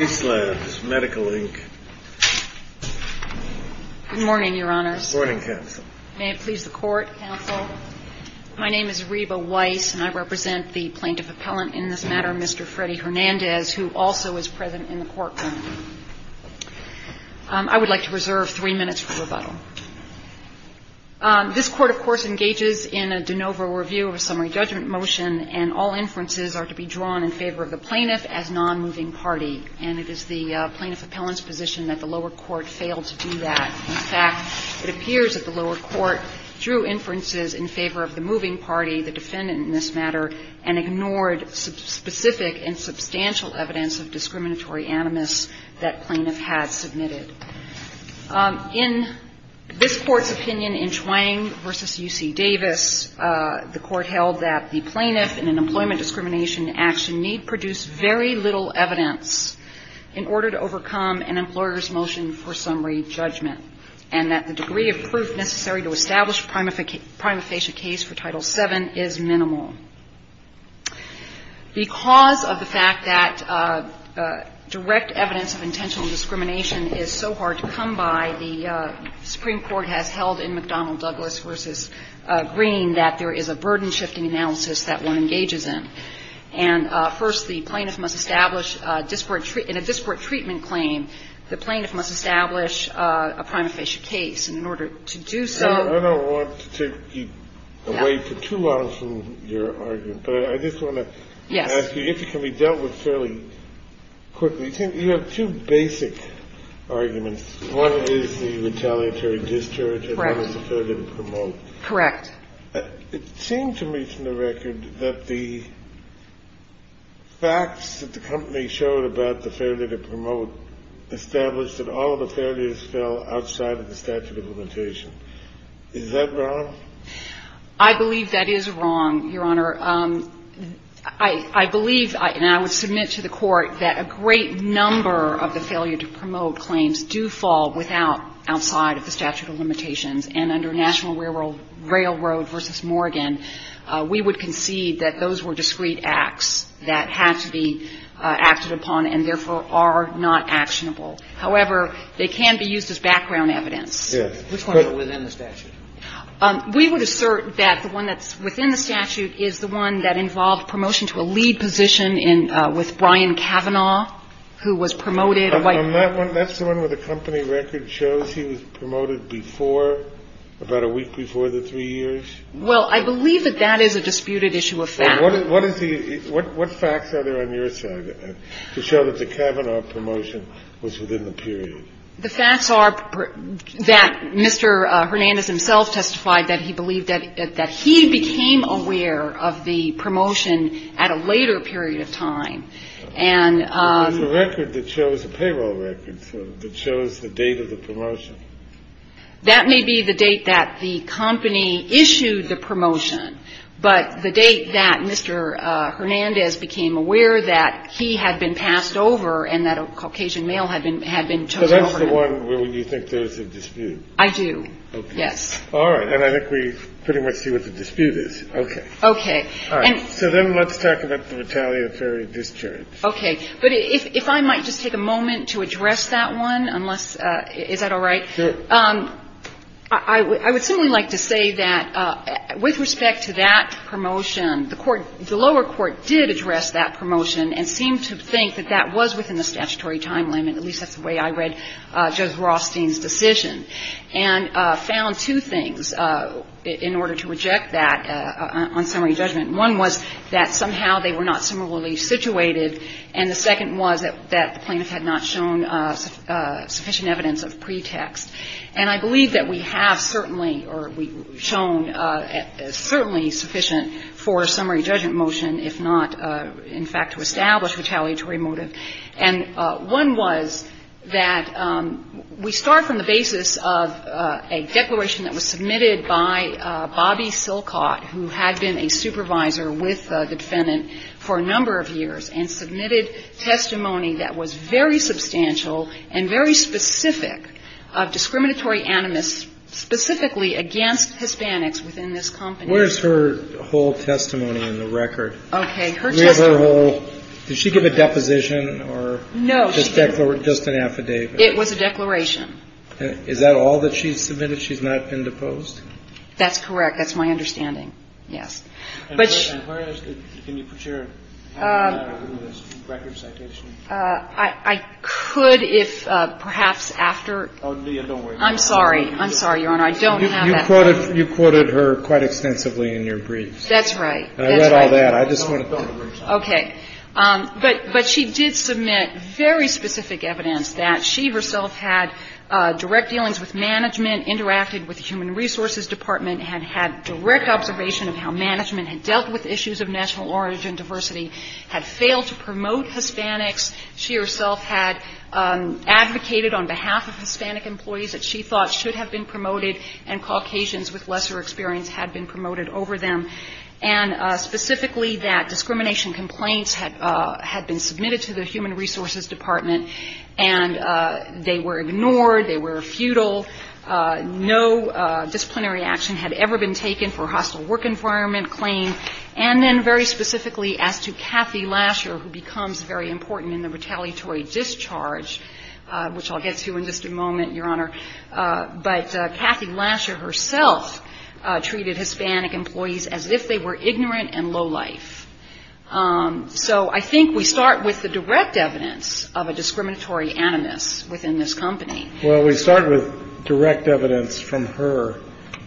Spacelabs, Medical, Inc. Good morning, Your Honors. Good morning, Counsel. May it please the Court, Counsel. My name is Reba Weiss, and I represent the Plaintiff Appellant in this matter, Mr. Freddy Hernandez, who also is present in the courtroom. I would like to reserve three minutes for rebuttal. This Court, of course, engages in a de novo review of a summary judgment motion, and all inferences are to be drawn in favor of the plaintiff as nonmoving party. And it is the Plaintiff Appellant's position that the lower court failed to do that. In fact, it appears that the lower court drew inferences in favor of the moving party, the defendant in this matter, and ignored specific and substantial evidence of discriminatory animus that plaintiff had submitted. In this Court's opinion in Chuang v. UC Davis, the Court held that the plaintiff in an employment discrimination action need produce very little evidence in order to overcome an employer's motion for summary judgment, and that the degree of proof necessary to establish a prima facie case for Title VII is minimal. Because of the fact that direct evidence of intentional discrimination is so hard to come by, the Supreme Court has held in McDonnell-Douglas v. Green that there is a burden-shifting analysis that one engages in. And first, the plaintiff must establish in a disparate treatment claim, the plaintiff must establish a prima facie case. And in order to do so ---- I don't want to keep away for too long from your argument, but I just want to ask you if it can be dealt with fairly quickly. You have two basic arguments. One is the retaliatory discharge, and one is the failure to promote. Correct. It seemed to me from the record that the facts that the company showed about the failure to promote established that all of the failures fell outside of the statute of limitations. Is that wrong? I believe that is wrong, Your Honor. I believe, and I would submit to the Court, that a great number of the failure to promote claims do fall without ---- outside of the statute of limitations. And under National Railroad v. Morgan, we would concede that those were discrete acts that had to be acted upon and, therefore, are not actionable. However, they can be used as background evidence. Yes. Which one? Within the statute. We would assert that the one that's within the statute is the one that involved promotion to a lead position in ---- with Brian Kavanaugh, who was promoted by ---- That's the one where the company record shows he was promoted before, about a week before the three years? Well, I believe that that is a disputed issue of fact. What is the ---- what facts are there on your side to show that the Kavanaugh promotion was within the period? The facts are that Mr. Hernandez himself testified that he believed that he became aware of the promotion at a later period of time. And ---- There was a record that shows, a payroll record that shows the date of the promotion. That may be the date that the company issued the promotion, but the date that Mr. Hernandez became aware that he had been passed over and that a Caucasian male had been chosen over him. So that's the one where you think there is a dispute? I do, yes. Okay. All right. And I think we pretty much see what the dispute is. Okay. Okay. All right. So then let's talk about the retaliatory discharge. Okay. But if I might just take a moment to address that one, unless ---- is that all right? Sure. I would certainly like to say that with respect to that promotion, the lower court did address that promotion and seemed to think that that was within the statutory time limit, at least that's the way I read Judge Rothstein's decision, and found two things in order to reject that on summary judgment. One was that somehow they were not similarly situated, and the second was that the plaintiff had not shown sufficient evidence of pretext. And I believe that we have certainly or shown certainly sufficient for a summary judgment motion, if not, in fact, to establish retaliatory motive. And one was that we start from the basis of a declaration that was submitted by Bobby Silcott, who had been a supervisor with the defendant for a number of years and submitted testimony that was very substantial and very specific of discriminatory animus specifically against Hispanics within this company. Where's her whole testimony in the record? Okay. Her testimony. So did she give a deposition or just an affidavit? It was a declaration. Is that all that she submitted? She's not been deposed? That's correct. That's my understanding. Yes. Can you put your record citation? I could if perhaps after. I'm sorry. I'm sorry, Your Honor. I don't have that. You quoted her quite extensively in your briefs. That's right. I read all that. Okay. But she did submit very specific evidence that she herself had direct dealings with management, interacted with the Human Resources Department, and had direct observation of how management had dealt with issues of national origin, diversity, had failed to promote Hispanics. She herself had advocated on behalf of Hispanic employees that she thought should have been promoted, and Caucasians with lesser experience had been promoted over them. And specifically that discrimination complaints had been submitted to the Human Resources Department, and they were ignored. They were futile. No disciplinary action had ever been taken for hostile work environment claim. And then very specifically as to Kathy Lasher, who becomes very important in the retaliatory discharge, which I'll get to in just a moment, Your Honor. But Kathy Lasher herself treated Hispanic employees as if they were ignorant and low life. So I think we start with the direct evidence of a discriminatory animus within this company. Well, we start with direct evidence from her.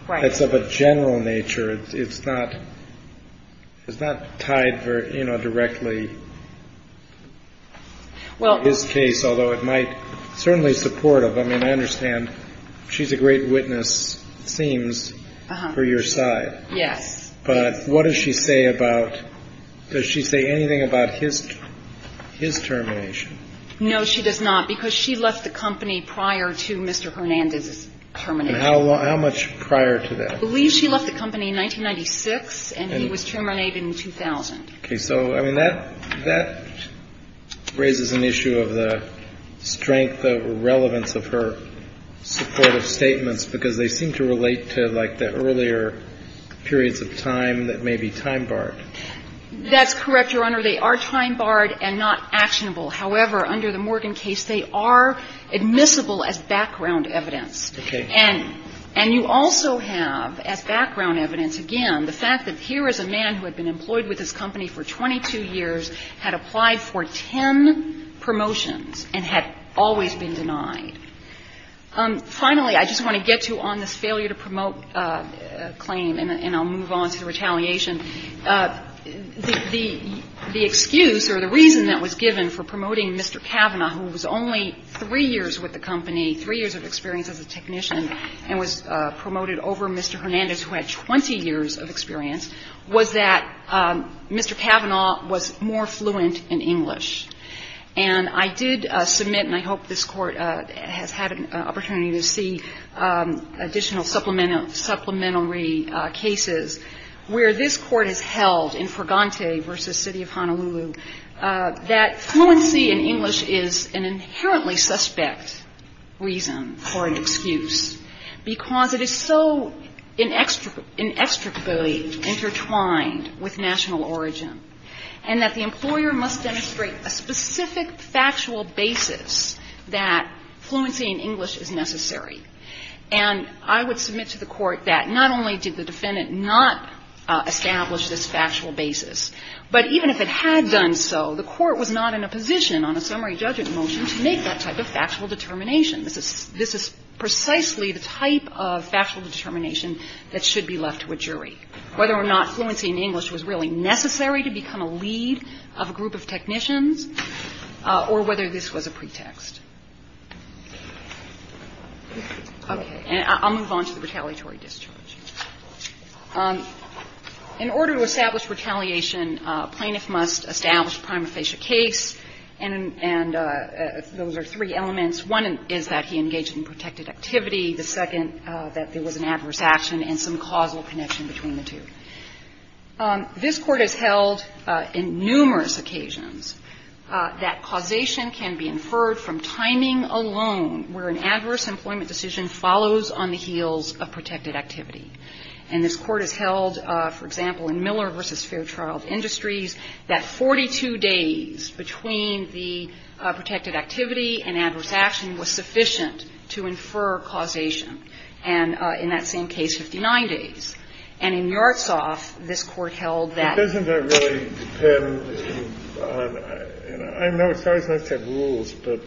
Right. That's of a general nature. It's not tied directly to this case, although it might certainly support it. I mean, I understand she's a great witness, it seems, for your side. Yes. But what does she say about, does she say anything about his termination? No, she does not, because she left the company prior to Mr. Hernandez's termination. And how much prior to that? I believe she left the company in 1996, and he was terminated in 2000. Okay. So, I mean, that raises an issue of the strength, the relevance of her supportive statements, because they seem to relate to, like, the earlier periods of time that may be time-barred. That's correct, Your Honor. They are time-barred and not actionable. However, under the Morgan case, they are admissible as background evidence. Okay. And you also have as background evidence, again, the fact that here is a man who had been employed with this company for 22 years, had applied for 10 promotions and had always been denied. Finally, I just want to get to on this failure to promote claim, and I'll move on to the retaliation. The excuse or the reason that was given for promoting Mr. Kavanaugh, who was only three years with the company, three years of experience as a technician, and was more fluent in English. And I did submit, and I hope this Court has had an opportunity to see additional supplementary cases, where this Court has held in Fregante v. City of Honolulu that fluency in English is an inherently suspect reason for an excuse, because it is so inextricably intertwined with national origin, and that the employer must demonstrate a specific factual basis that fluency in English is necessary. And I would submit to the Court that not only did the defendant not establish this factual basis, but even if it had done so, the Court was not in a position on a summary judgment motion to make that type of factual determination. This is precisely the type of factual determination that should be left to a jury, whether or not fluency in English was really necessary to become a lead of a group of technicians, or whether this was a pretext. Okay. And I'll move on to the retaliatory discharge. In order to establish retaliation, a plaintiff must establish a prima facie case, and those are three elements. One is that he engaged in protected activity. The second, that there was an adverse action and some causal connection between the two. This Court has held on numerous occasions that causation can be inferred from timing alone where an adverse employment decision follows on the heels of protected activity. And this Court has held, for example, in Miller v. Fairchild Industries, that 42 days between the protected activity and adverse action was sufficient to infer causation, and in that same case, 59 days. And in Yartsov, this Court held that. It doesn't really depend on – I know it's always nice to have rules, but,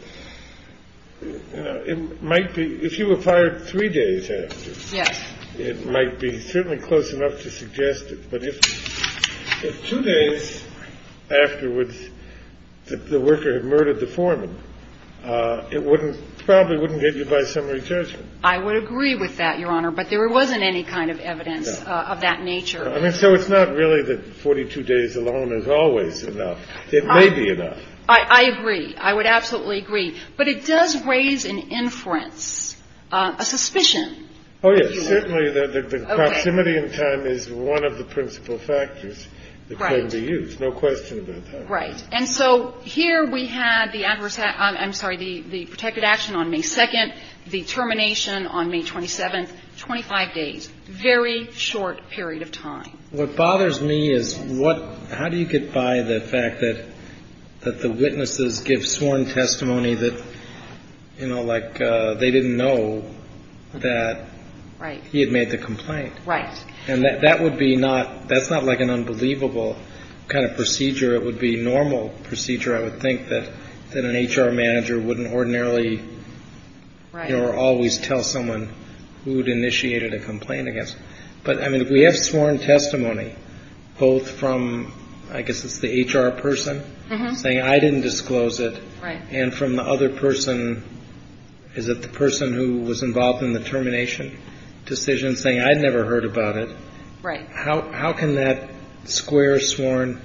you know, it might be – if you were fired three days after. Yes. It might be certainly close enough to suggest it, but if two days afterwards the worker had murdered the foreman, it probably wouldn't get you by summary judgment. I would agree with that, Your Honor. But there wasn't any kind of evidence of that nature. I mean, so it's not really that 42 days alone is always enough. It may be enough. I agree. I would absolutely agree. But it does raise an inference, a suspicion. Oh, yes. Certainly the proximity in time is one of the principal factors that can be used. Right. There's no question about that. Right. And so here we had the adverse – I'm sorry, the protected action on May 2nd, the termination on May 27th, 25 days. Very short period of time. What bothers me is what – how do you get by the fact that the witnesses give sworn testimony that, you know, like they didn't know that he had made the complaint? Right. And that would be not – that's not like an unbelievable kind of procedure. It would be normal procedure, I would think, that an HR manager wouldn't ordinarily or always tell someone who'd initiated a complaint against him. But, I mean, we have sworn testimony both from, I guess it's the HR person saying, I didn't disclose it, and from the other person, is it the person who was involved in the termination decision saying, I'd never heard about it? Right. How can that square sworn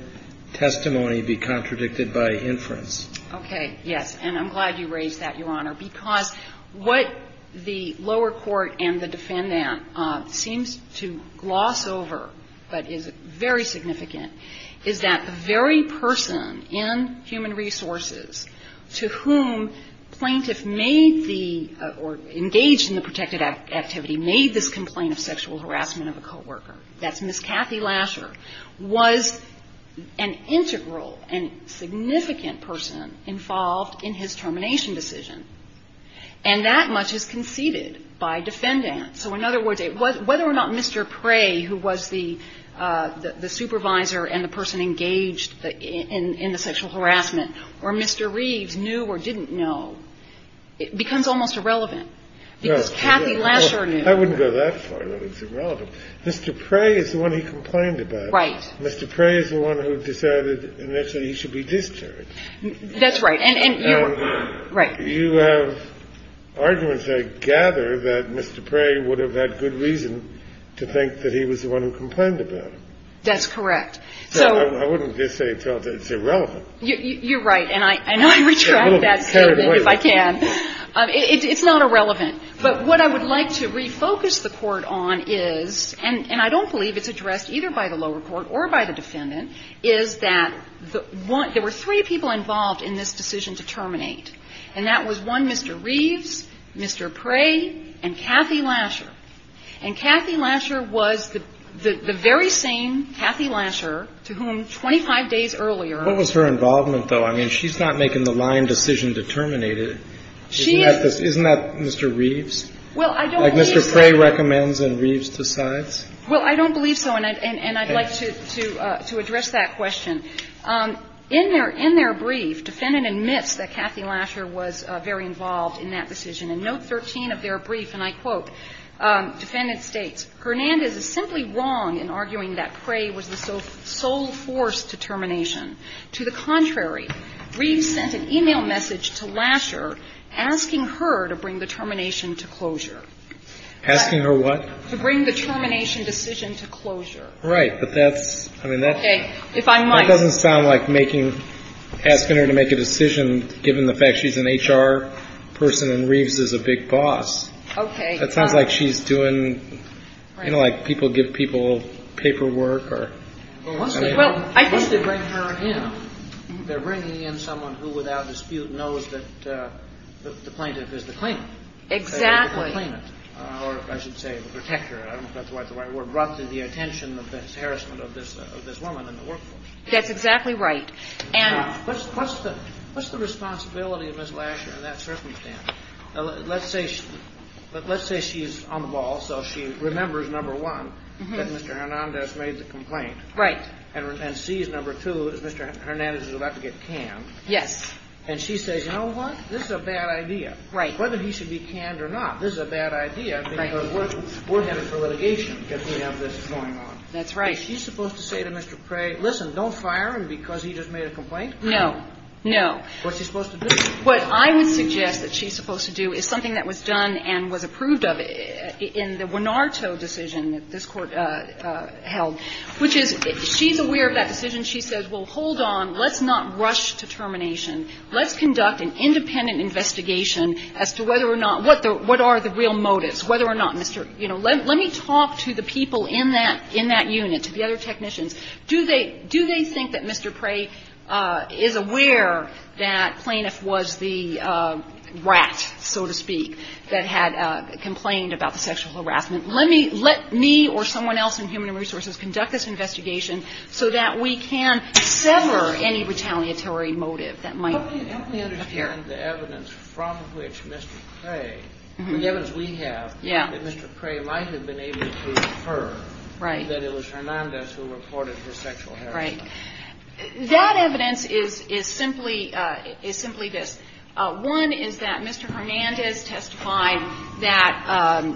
testimony be contradicted by inference? Okay. Yes. And I'm glad you raised that, Your Honor, because what the lower court and the defendant seems to gloss over, but is very significant, is that very person in Human Resources to whom plaintiff made the – or engaged in the protected activity made this complaint of sexual harassment of a coworker, that's Ms. Kathy Lasher, was an integral and significant person involved in his termination decision. And that much is conceded by defendants. So in other words, whether or not Mr. Prey, who was the supervisor and the person engaged in the sexual harassment, or Mr. Reeves knew or didn't know, it becomes almost irrelevant, because Kathy Lasher knew. I wouldn't go that far. That's irrelevant. Mr. Prey is the one he complained about. Right. Mr. Prey is the one who decided initially he should be discharged. That's right. And you – right. You have arguments, I gather, that Mr. Prey would have had good reason to think that he was the one who complained about him. That's correct. I wouldn't just say it's irrelevant. You're right. And I retract that statement if I can. It's not irrelevant. But what I would like to refocus the Court on is – and I don't believe it's addressed either by the lower court or by the defendant – is that there were three people involved in this decision to terminate. And that was, one, Mr. Reeves, Mr. Prey, and Kathy Lasher. And Kathy Lasher was the very same Kathy Lasher to whom 25 days earlier – What was her involvement, though? I mean, she's not making the line decision to terminate it. She is – Isn't that Mr. Reeves? Well, I don't believe so. Like Mr. Prey recommends and Reeves decides? Well, I don't believe so, and I'd like to address that question. In their brief, defendant admits that Kathy Lasher was very involved in that decision. In note 13 of their brief, and I quote, defendant states, "...Hernandez is simply wrong in arguing that Prey was the sole force to termination. To the contrary, Reeves sent an e-mail message to Lasher asking her to bring the termination to closure." Asking her what? To bring the termination decision to closure. Right. But that's – I mean, that's – Okay. If I might – That doesn't sound like making – asking her to make a decision given the fact she's an HR person and Reeves is a big boss. Okay. That sounds like she's doing – you know, like people give people paperwork or – Well, once they bring her in, they're bringing in someone who without dispute knows that the plaintiff is the claimant. Exactly. Or I should say the protector. I don't know if that's the right word. Brought to the attention of this harassment of this woman in the workforce. That's exactly right. What's the responsibility of Ms. Lasher in that circumstance? Let's say she's on the ball, so she remembers, number one, that Mr. Hernandez made the complaint. Right. And sees, number two, that Mr. Hernandez is about to get canned. Yes. And she says, you know what? This is a bad idea. Right. Whether he should be canned or not, this is a bad idea because we're headed for litigation if we have this going on. That's right. Is she supposed to say to Mr. Prey, listen, don't fire him because he just made a complaint? No. No. What's he supposed to do? What I would suggest that she's supposed to do is something that was done and was approved of in the Winarto decision that this Court held, which is she's aware of that decision. She says, well, hold on. Let's not rush to termination. Let's conduct an independent investigation as to whether or not – what are the real motives, whether or not Mr. – you know, let me talk to the people in that unit, to the other technicians. Do they think that Mr. Prey is aware that Plaintiff was the rat, so to speak, that had complained about the sexual harassment? Let me – let me or someone else in Human Resources conduct this investigation so that we can sever any retaliatory motive that might appear. And the evidence from which Mr. Prey – the evidence we have that Mr. Prey might have been able to infer that it was Hernandez who reported his sexual harassment. Right. That evidence is simply – is simply this. One is that Mr. Hernandez testified that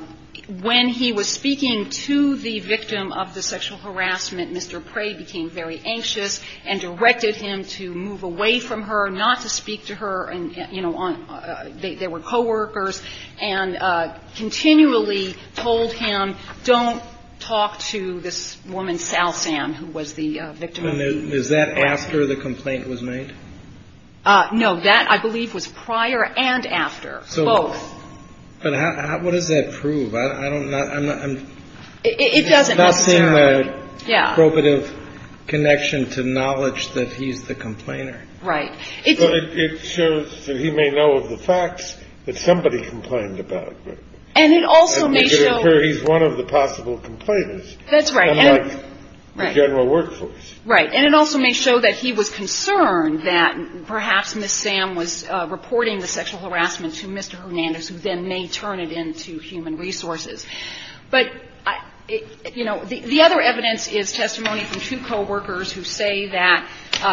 when he was speaking to the victim of the sexual harassment, Mr. Prey became very anxious and directed him to move away from her, not to speak to her, and, you know, there were coworkers, and continually told him, don't talk to this woman, Sal Sam, who was the victim of the sexual harassment. And is that after the complaint was made? No. That, I believe, was prior and after, both. So – but how – what does that prove? It doesn't necessarily. I'm not seeing the probative connection to knowledge that he's the complainer. Right. It's – But it shows that he may know of the facts that somebody complained about. And it also may show – It could occur he's one of the possible complainers. That's right. Unlike the general workforce. Right. And it also may show that he was concerned that perhaps Ms. Sam was reporting the sexual harassment to Mr. Hernandez, who then may turn it into Human Resources. But, you know, the other evidence is testimony from two coworkers who say that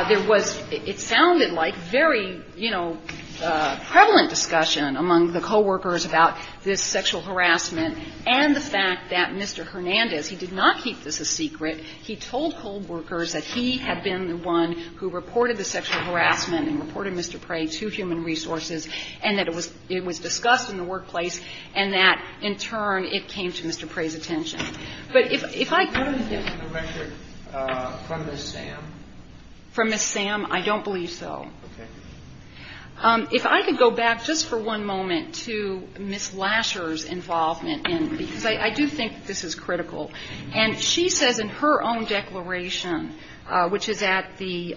there was – it sounded like very, you know, prevalent discussion among the coworkers about this sexual harassment and the fact that Mr. Hernandez, he did not keep this a secret, he told coworkers that he had been the one who reported the sexual harassment and reported Mr. Prey to Human Resources, and that it was discussed in the workplace, and that, in turn, it came to Mr. Prey's attention. But if I could – What is the record from Ms. Sam? From Ms. Sam? I don't believe so. Okay. If I could go back just for one moment to Ms. Lasher's involvement in – because I do think this is critical. And she says in her own declaration, which is at the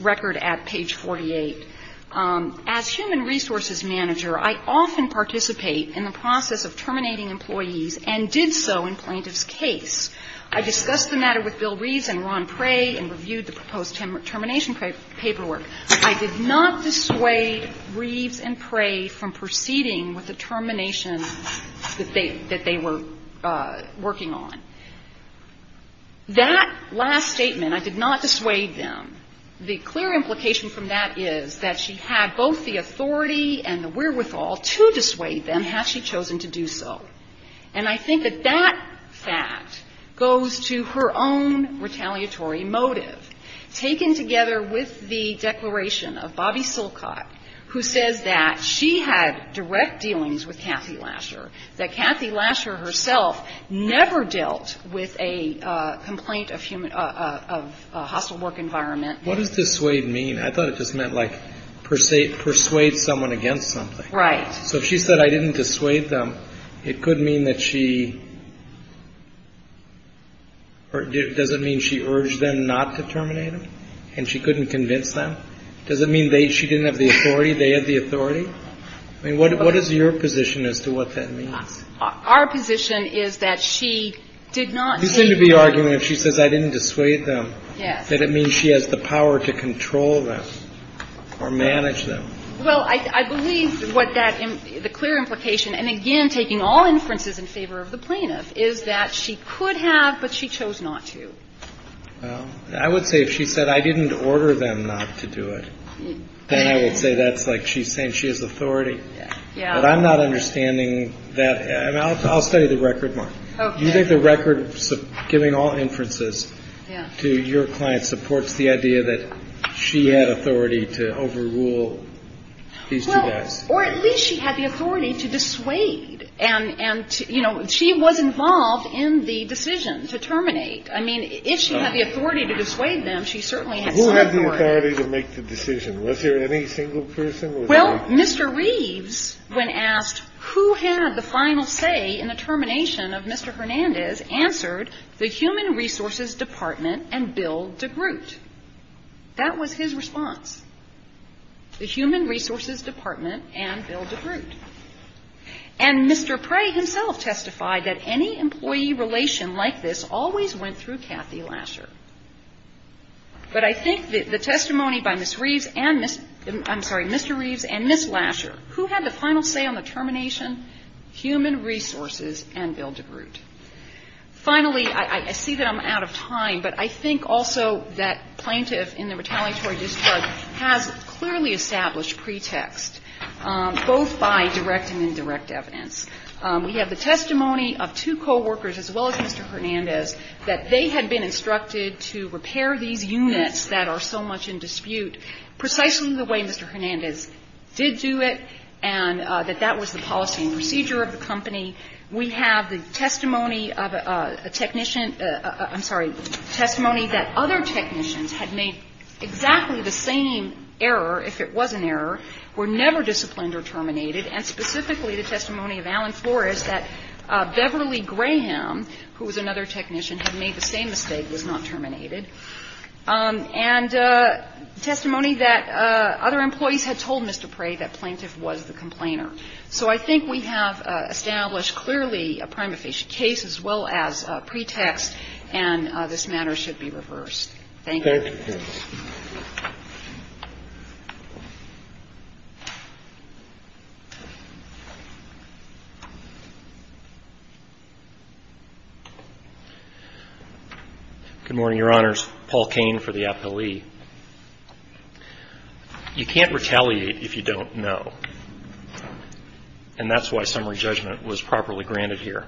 record at page 48, As Human Resources manager, I often participate in the process of terminating employees and did so in plaintiff's case. I discussed the matter with Bill Reeves and Ron Prey and reviewed the proposed termination paperwork. I did not dissuade Reeves and Prey from proceeding with the termination that they were working on. That last statement, I did not dissuade them. The clear implication from that is that she had both the authority and the wherewithal to dissuade them had she chosen to do so. And I think that that fact goes to her own retaliatory motive, taken together with the declaration of Bobby Silcott, who says that she had direct dealings with Kathy Lasher, that Kathy Lasher herself never dealt with a complaint of hostile work environment. What does dissuade mean? I thought it just meant like persuade someone against something. Right. So if she said I didn't dissuade them, it could mean that she – does it mean she urged them not to terminate them and she couldn't convince them? Does it mean she didn't have the authority, they had the authority? I mean, what is your position as to what that means? Our position is that she did not take the – You seem to be arguing if she says I didn't dissuade them, that it means she has the power to control them or manage them. Well, I believe what that – the clear implication, and again, taking all inferences in favor of the plaintiff, is that she could have, but she chose not to. Well, I would say if she said I didn't order them not to do it, then I would say that's like she's saying that she has authority. Yeah. But I'm not understanding that – and I'll study the record, Mark. Okay. Do you think the record giving all inferences to your client supports the idea that she had authority to overrule these two guys? Well, or at least she had the authority to dissuade and, you know, she was involved in the decision to terminate. I mean, if she had the authority to dissuade them, she certainly had some authority. Who had the authority to make the decision? Was there any single person? Well, Mr. Reeves, when asked who had the final say in the termination of Mr. Hernandez, answered the Human Resources Department and Bill DeGroote. That was his response, the Human Resources Department and Bill DeGroote. And Mr. Prey himself testified that any employee relation like this always went through Kathy Lasher. But I think the testimony by Ms. Reeves and – I'm sorry, Mr. Reeves and Ms. Lasher, who had the final say on the termination? Human Resources and Bill DeGroote. Finally, I see that I'm out of time, but I think also that plaintiff in the retaliatory discharge has clearly established pretext, both by direct and indirect evidence. We have the testimony of two coworkers, as well as Mr. Hernandez, that they had been instructed to repair these units that are so much in dispute, precisely the way Mr. Hernandez did do it, and that that was the policy and procedure of the company. We have the testimony of a technician – I'm sorry, testimony that other technicians had made exactly the same error, if it was an error, were never disciplined or terminated. And specifically, the testimony of Alan Flores that Beverly Graham, who was another technician, had made the same mistake, was not terminated. And testimony that other employees had told Mr. Prey that plaintiff was the complainer. So I think we have established clearly a prima facie case as well as pretext, and this matter should be reversed. Thank you. Good morning, Your Honors. Paul Kane for the appellee. You can't retaliate if you don't know, and that's why summary judgment was properly granted here.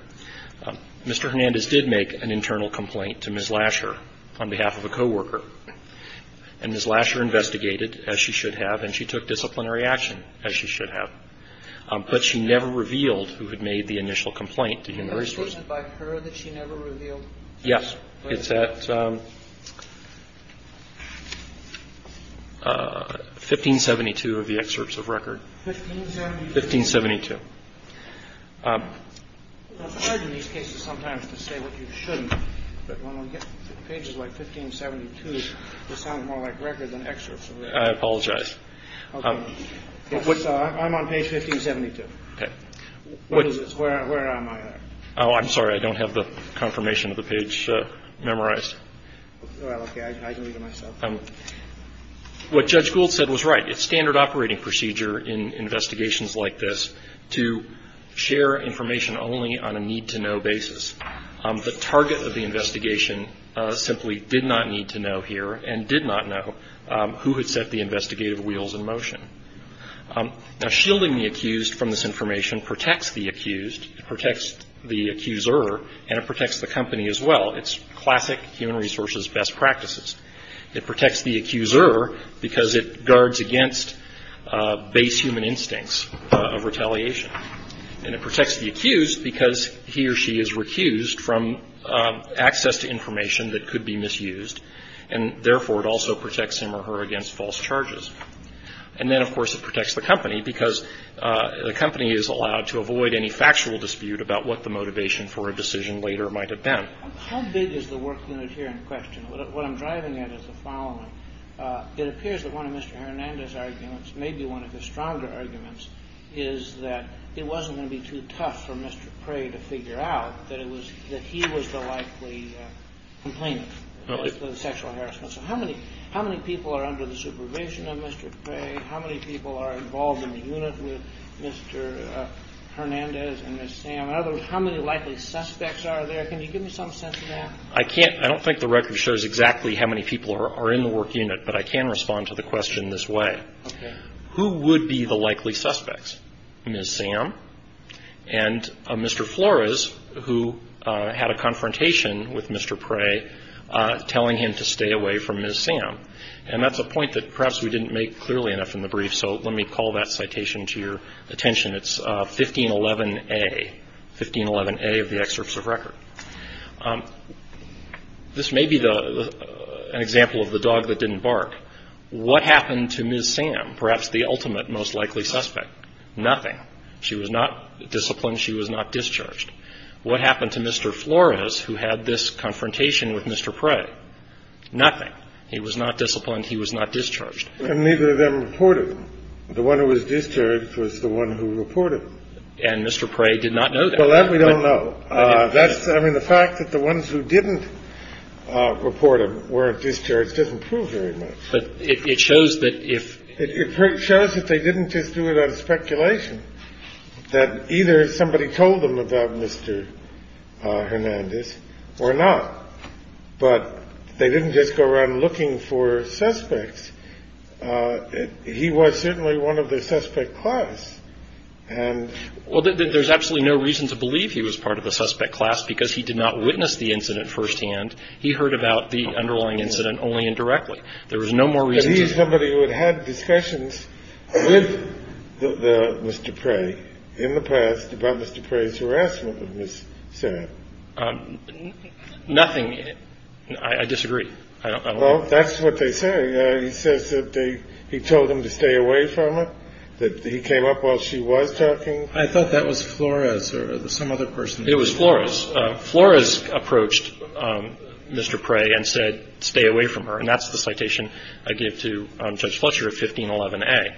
Mr. Hernandez did make an internal complaint to Ms. Lasher on behalf of a coworker and Ms. Lasher investigated, as she should have, and she took disciplinary action, as she should have. But she never revealed who had made the initial complaint to Human Resources. Was it by her that she never revealed? Yes. It's at 1572 of the excerpts of record. 1572? 1572. It's hard in these cases sometimes to say what you shouldn't, but when we get pages like 1572, it sounds more like record than excerpts. I apologize. Okay. I'm on page 1572. Okay. What is this? Where am I? Oh, I'm sorry. I don't have the confirmation of the page memorized. Well, okay. I can read it myself. What Judge Gould said was right. It's standard operating procedure in investigations like this to share information only on a need-to-know basis. The target of the investigation simply did not need to know here and did not know who had set the investigative wheels in motion. Now, shielding the accused from this information protects the accused, protects the accuser, and it protects the company as well. It's classic Human Resources best practices. It protects the accuser because it guards against base human instincts of retaliation, and it protects the accused because he or she is recused from access to information that could be misused, and therefore, it also protects him or her against false charges. And then, of course, it protects the company because the company is allowed to avoid any factual dispute about what the motivation for a decision later might have been. How big is the work unit here in question? What I'm driving at is the following. It appears that one of Mr. Hernandez's arguments, maybe one of his stronger arguments, is that it wasn't going to be too tough for Mr. Prey to figure out that he was the likely complainant, the sexual harassment. So how many people are under the supervision of Mr. Prey? How many people are involved in the unit with Mr. Hernandez and Ms. Sam? In other words, how many likely suspects are there? Can you give me some sense of that? I can't. I don't think the record shows exactly how many people are in the work unit, but I can respond to the question this way. Okay. Who would be the likely suspects? Ms. Sam and Mr. Flores, who had a confrontation with Mr. Prey telling him to stay away from Ms. Sam. And that's a point that perhaps we didn't make clearly enough in the brief, so let me call that citation to your attention. It's 1511A, 1511A of the excerpts of record. This may be an example of the dog that didn't bark. What happened to Ms. Sam, perhaps the ultimate most likely suspect? Nothing. She was not disciplined. She was not discharged. What happened to Mr. Flores, who had this confrontation with Mr. Prey? Nothing. He was not disciplined. He was not discharged. And neither of them reported. The one who was discharged was the one who reported. And Mr. Prey did not know that. Well, that we don't know. I mean, the fact that the ones who didn't report him weren't discharged doesn't prove very much. But it shows that if they didn't just do it out of speculation, that either somebody told them about Mr. Hernandez or not. But they didn't just go around looking for suspects. He was certainly one of the suspect class. Well, there's absolutely no reason to believe he was part of the suspect class, because he did not witness the incident firsthand. He heard about the underlying incident only indirectly. There was no more reason to. But he is somebody who had had discussions with Mr. Prey in the past about Mr. Prey's harassment of Ms. Sam. Nothing. I disagree. Well, that's what they say. He says that he told him to stay away from her, that he came up while she was talking. I thought that was Flores or some other person. It was Flores. Flores approached Mr. Prey and said, stay away from her. And that's the citation I gave to Judge Fletcher of 1511A.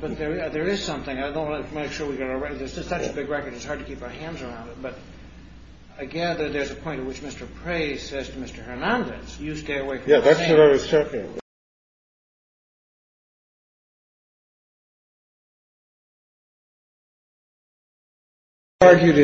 But there is something. I don't want to make sure we get it right. This is such a big record, it's hard to keep our hands around it. But I gather there's a point at which Mr. Prey says to Mr. Hernandez, you stay away from Ms. Sam. Yeah, that's what I was talking about.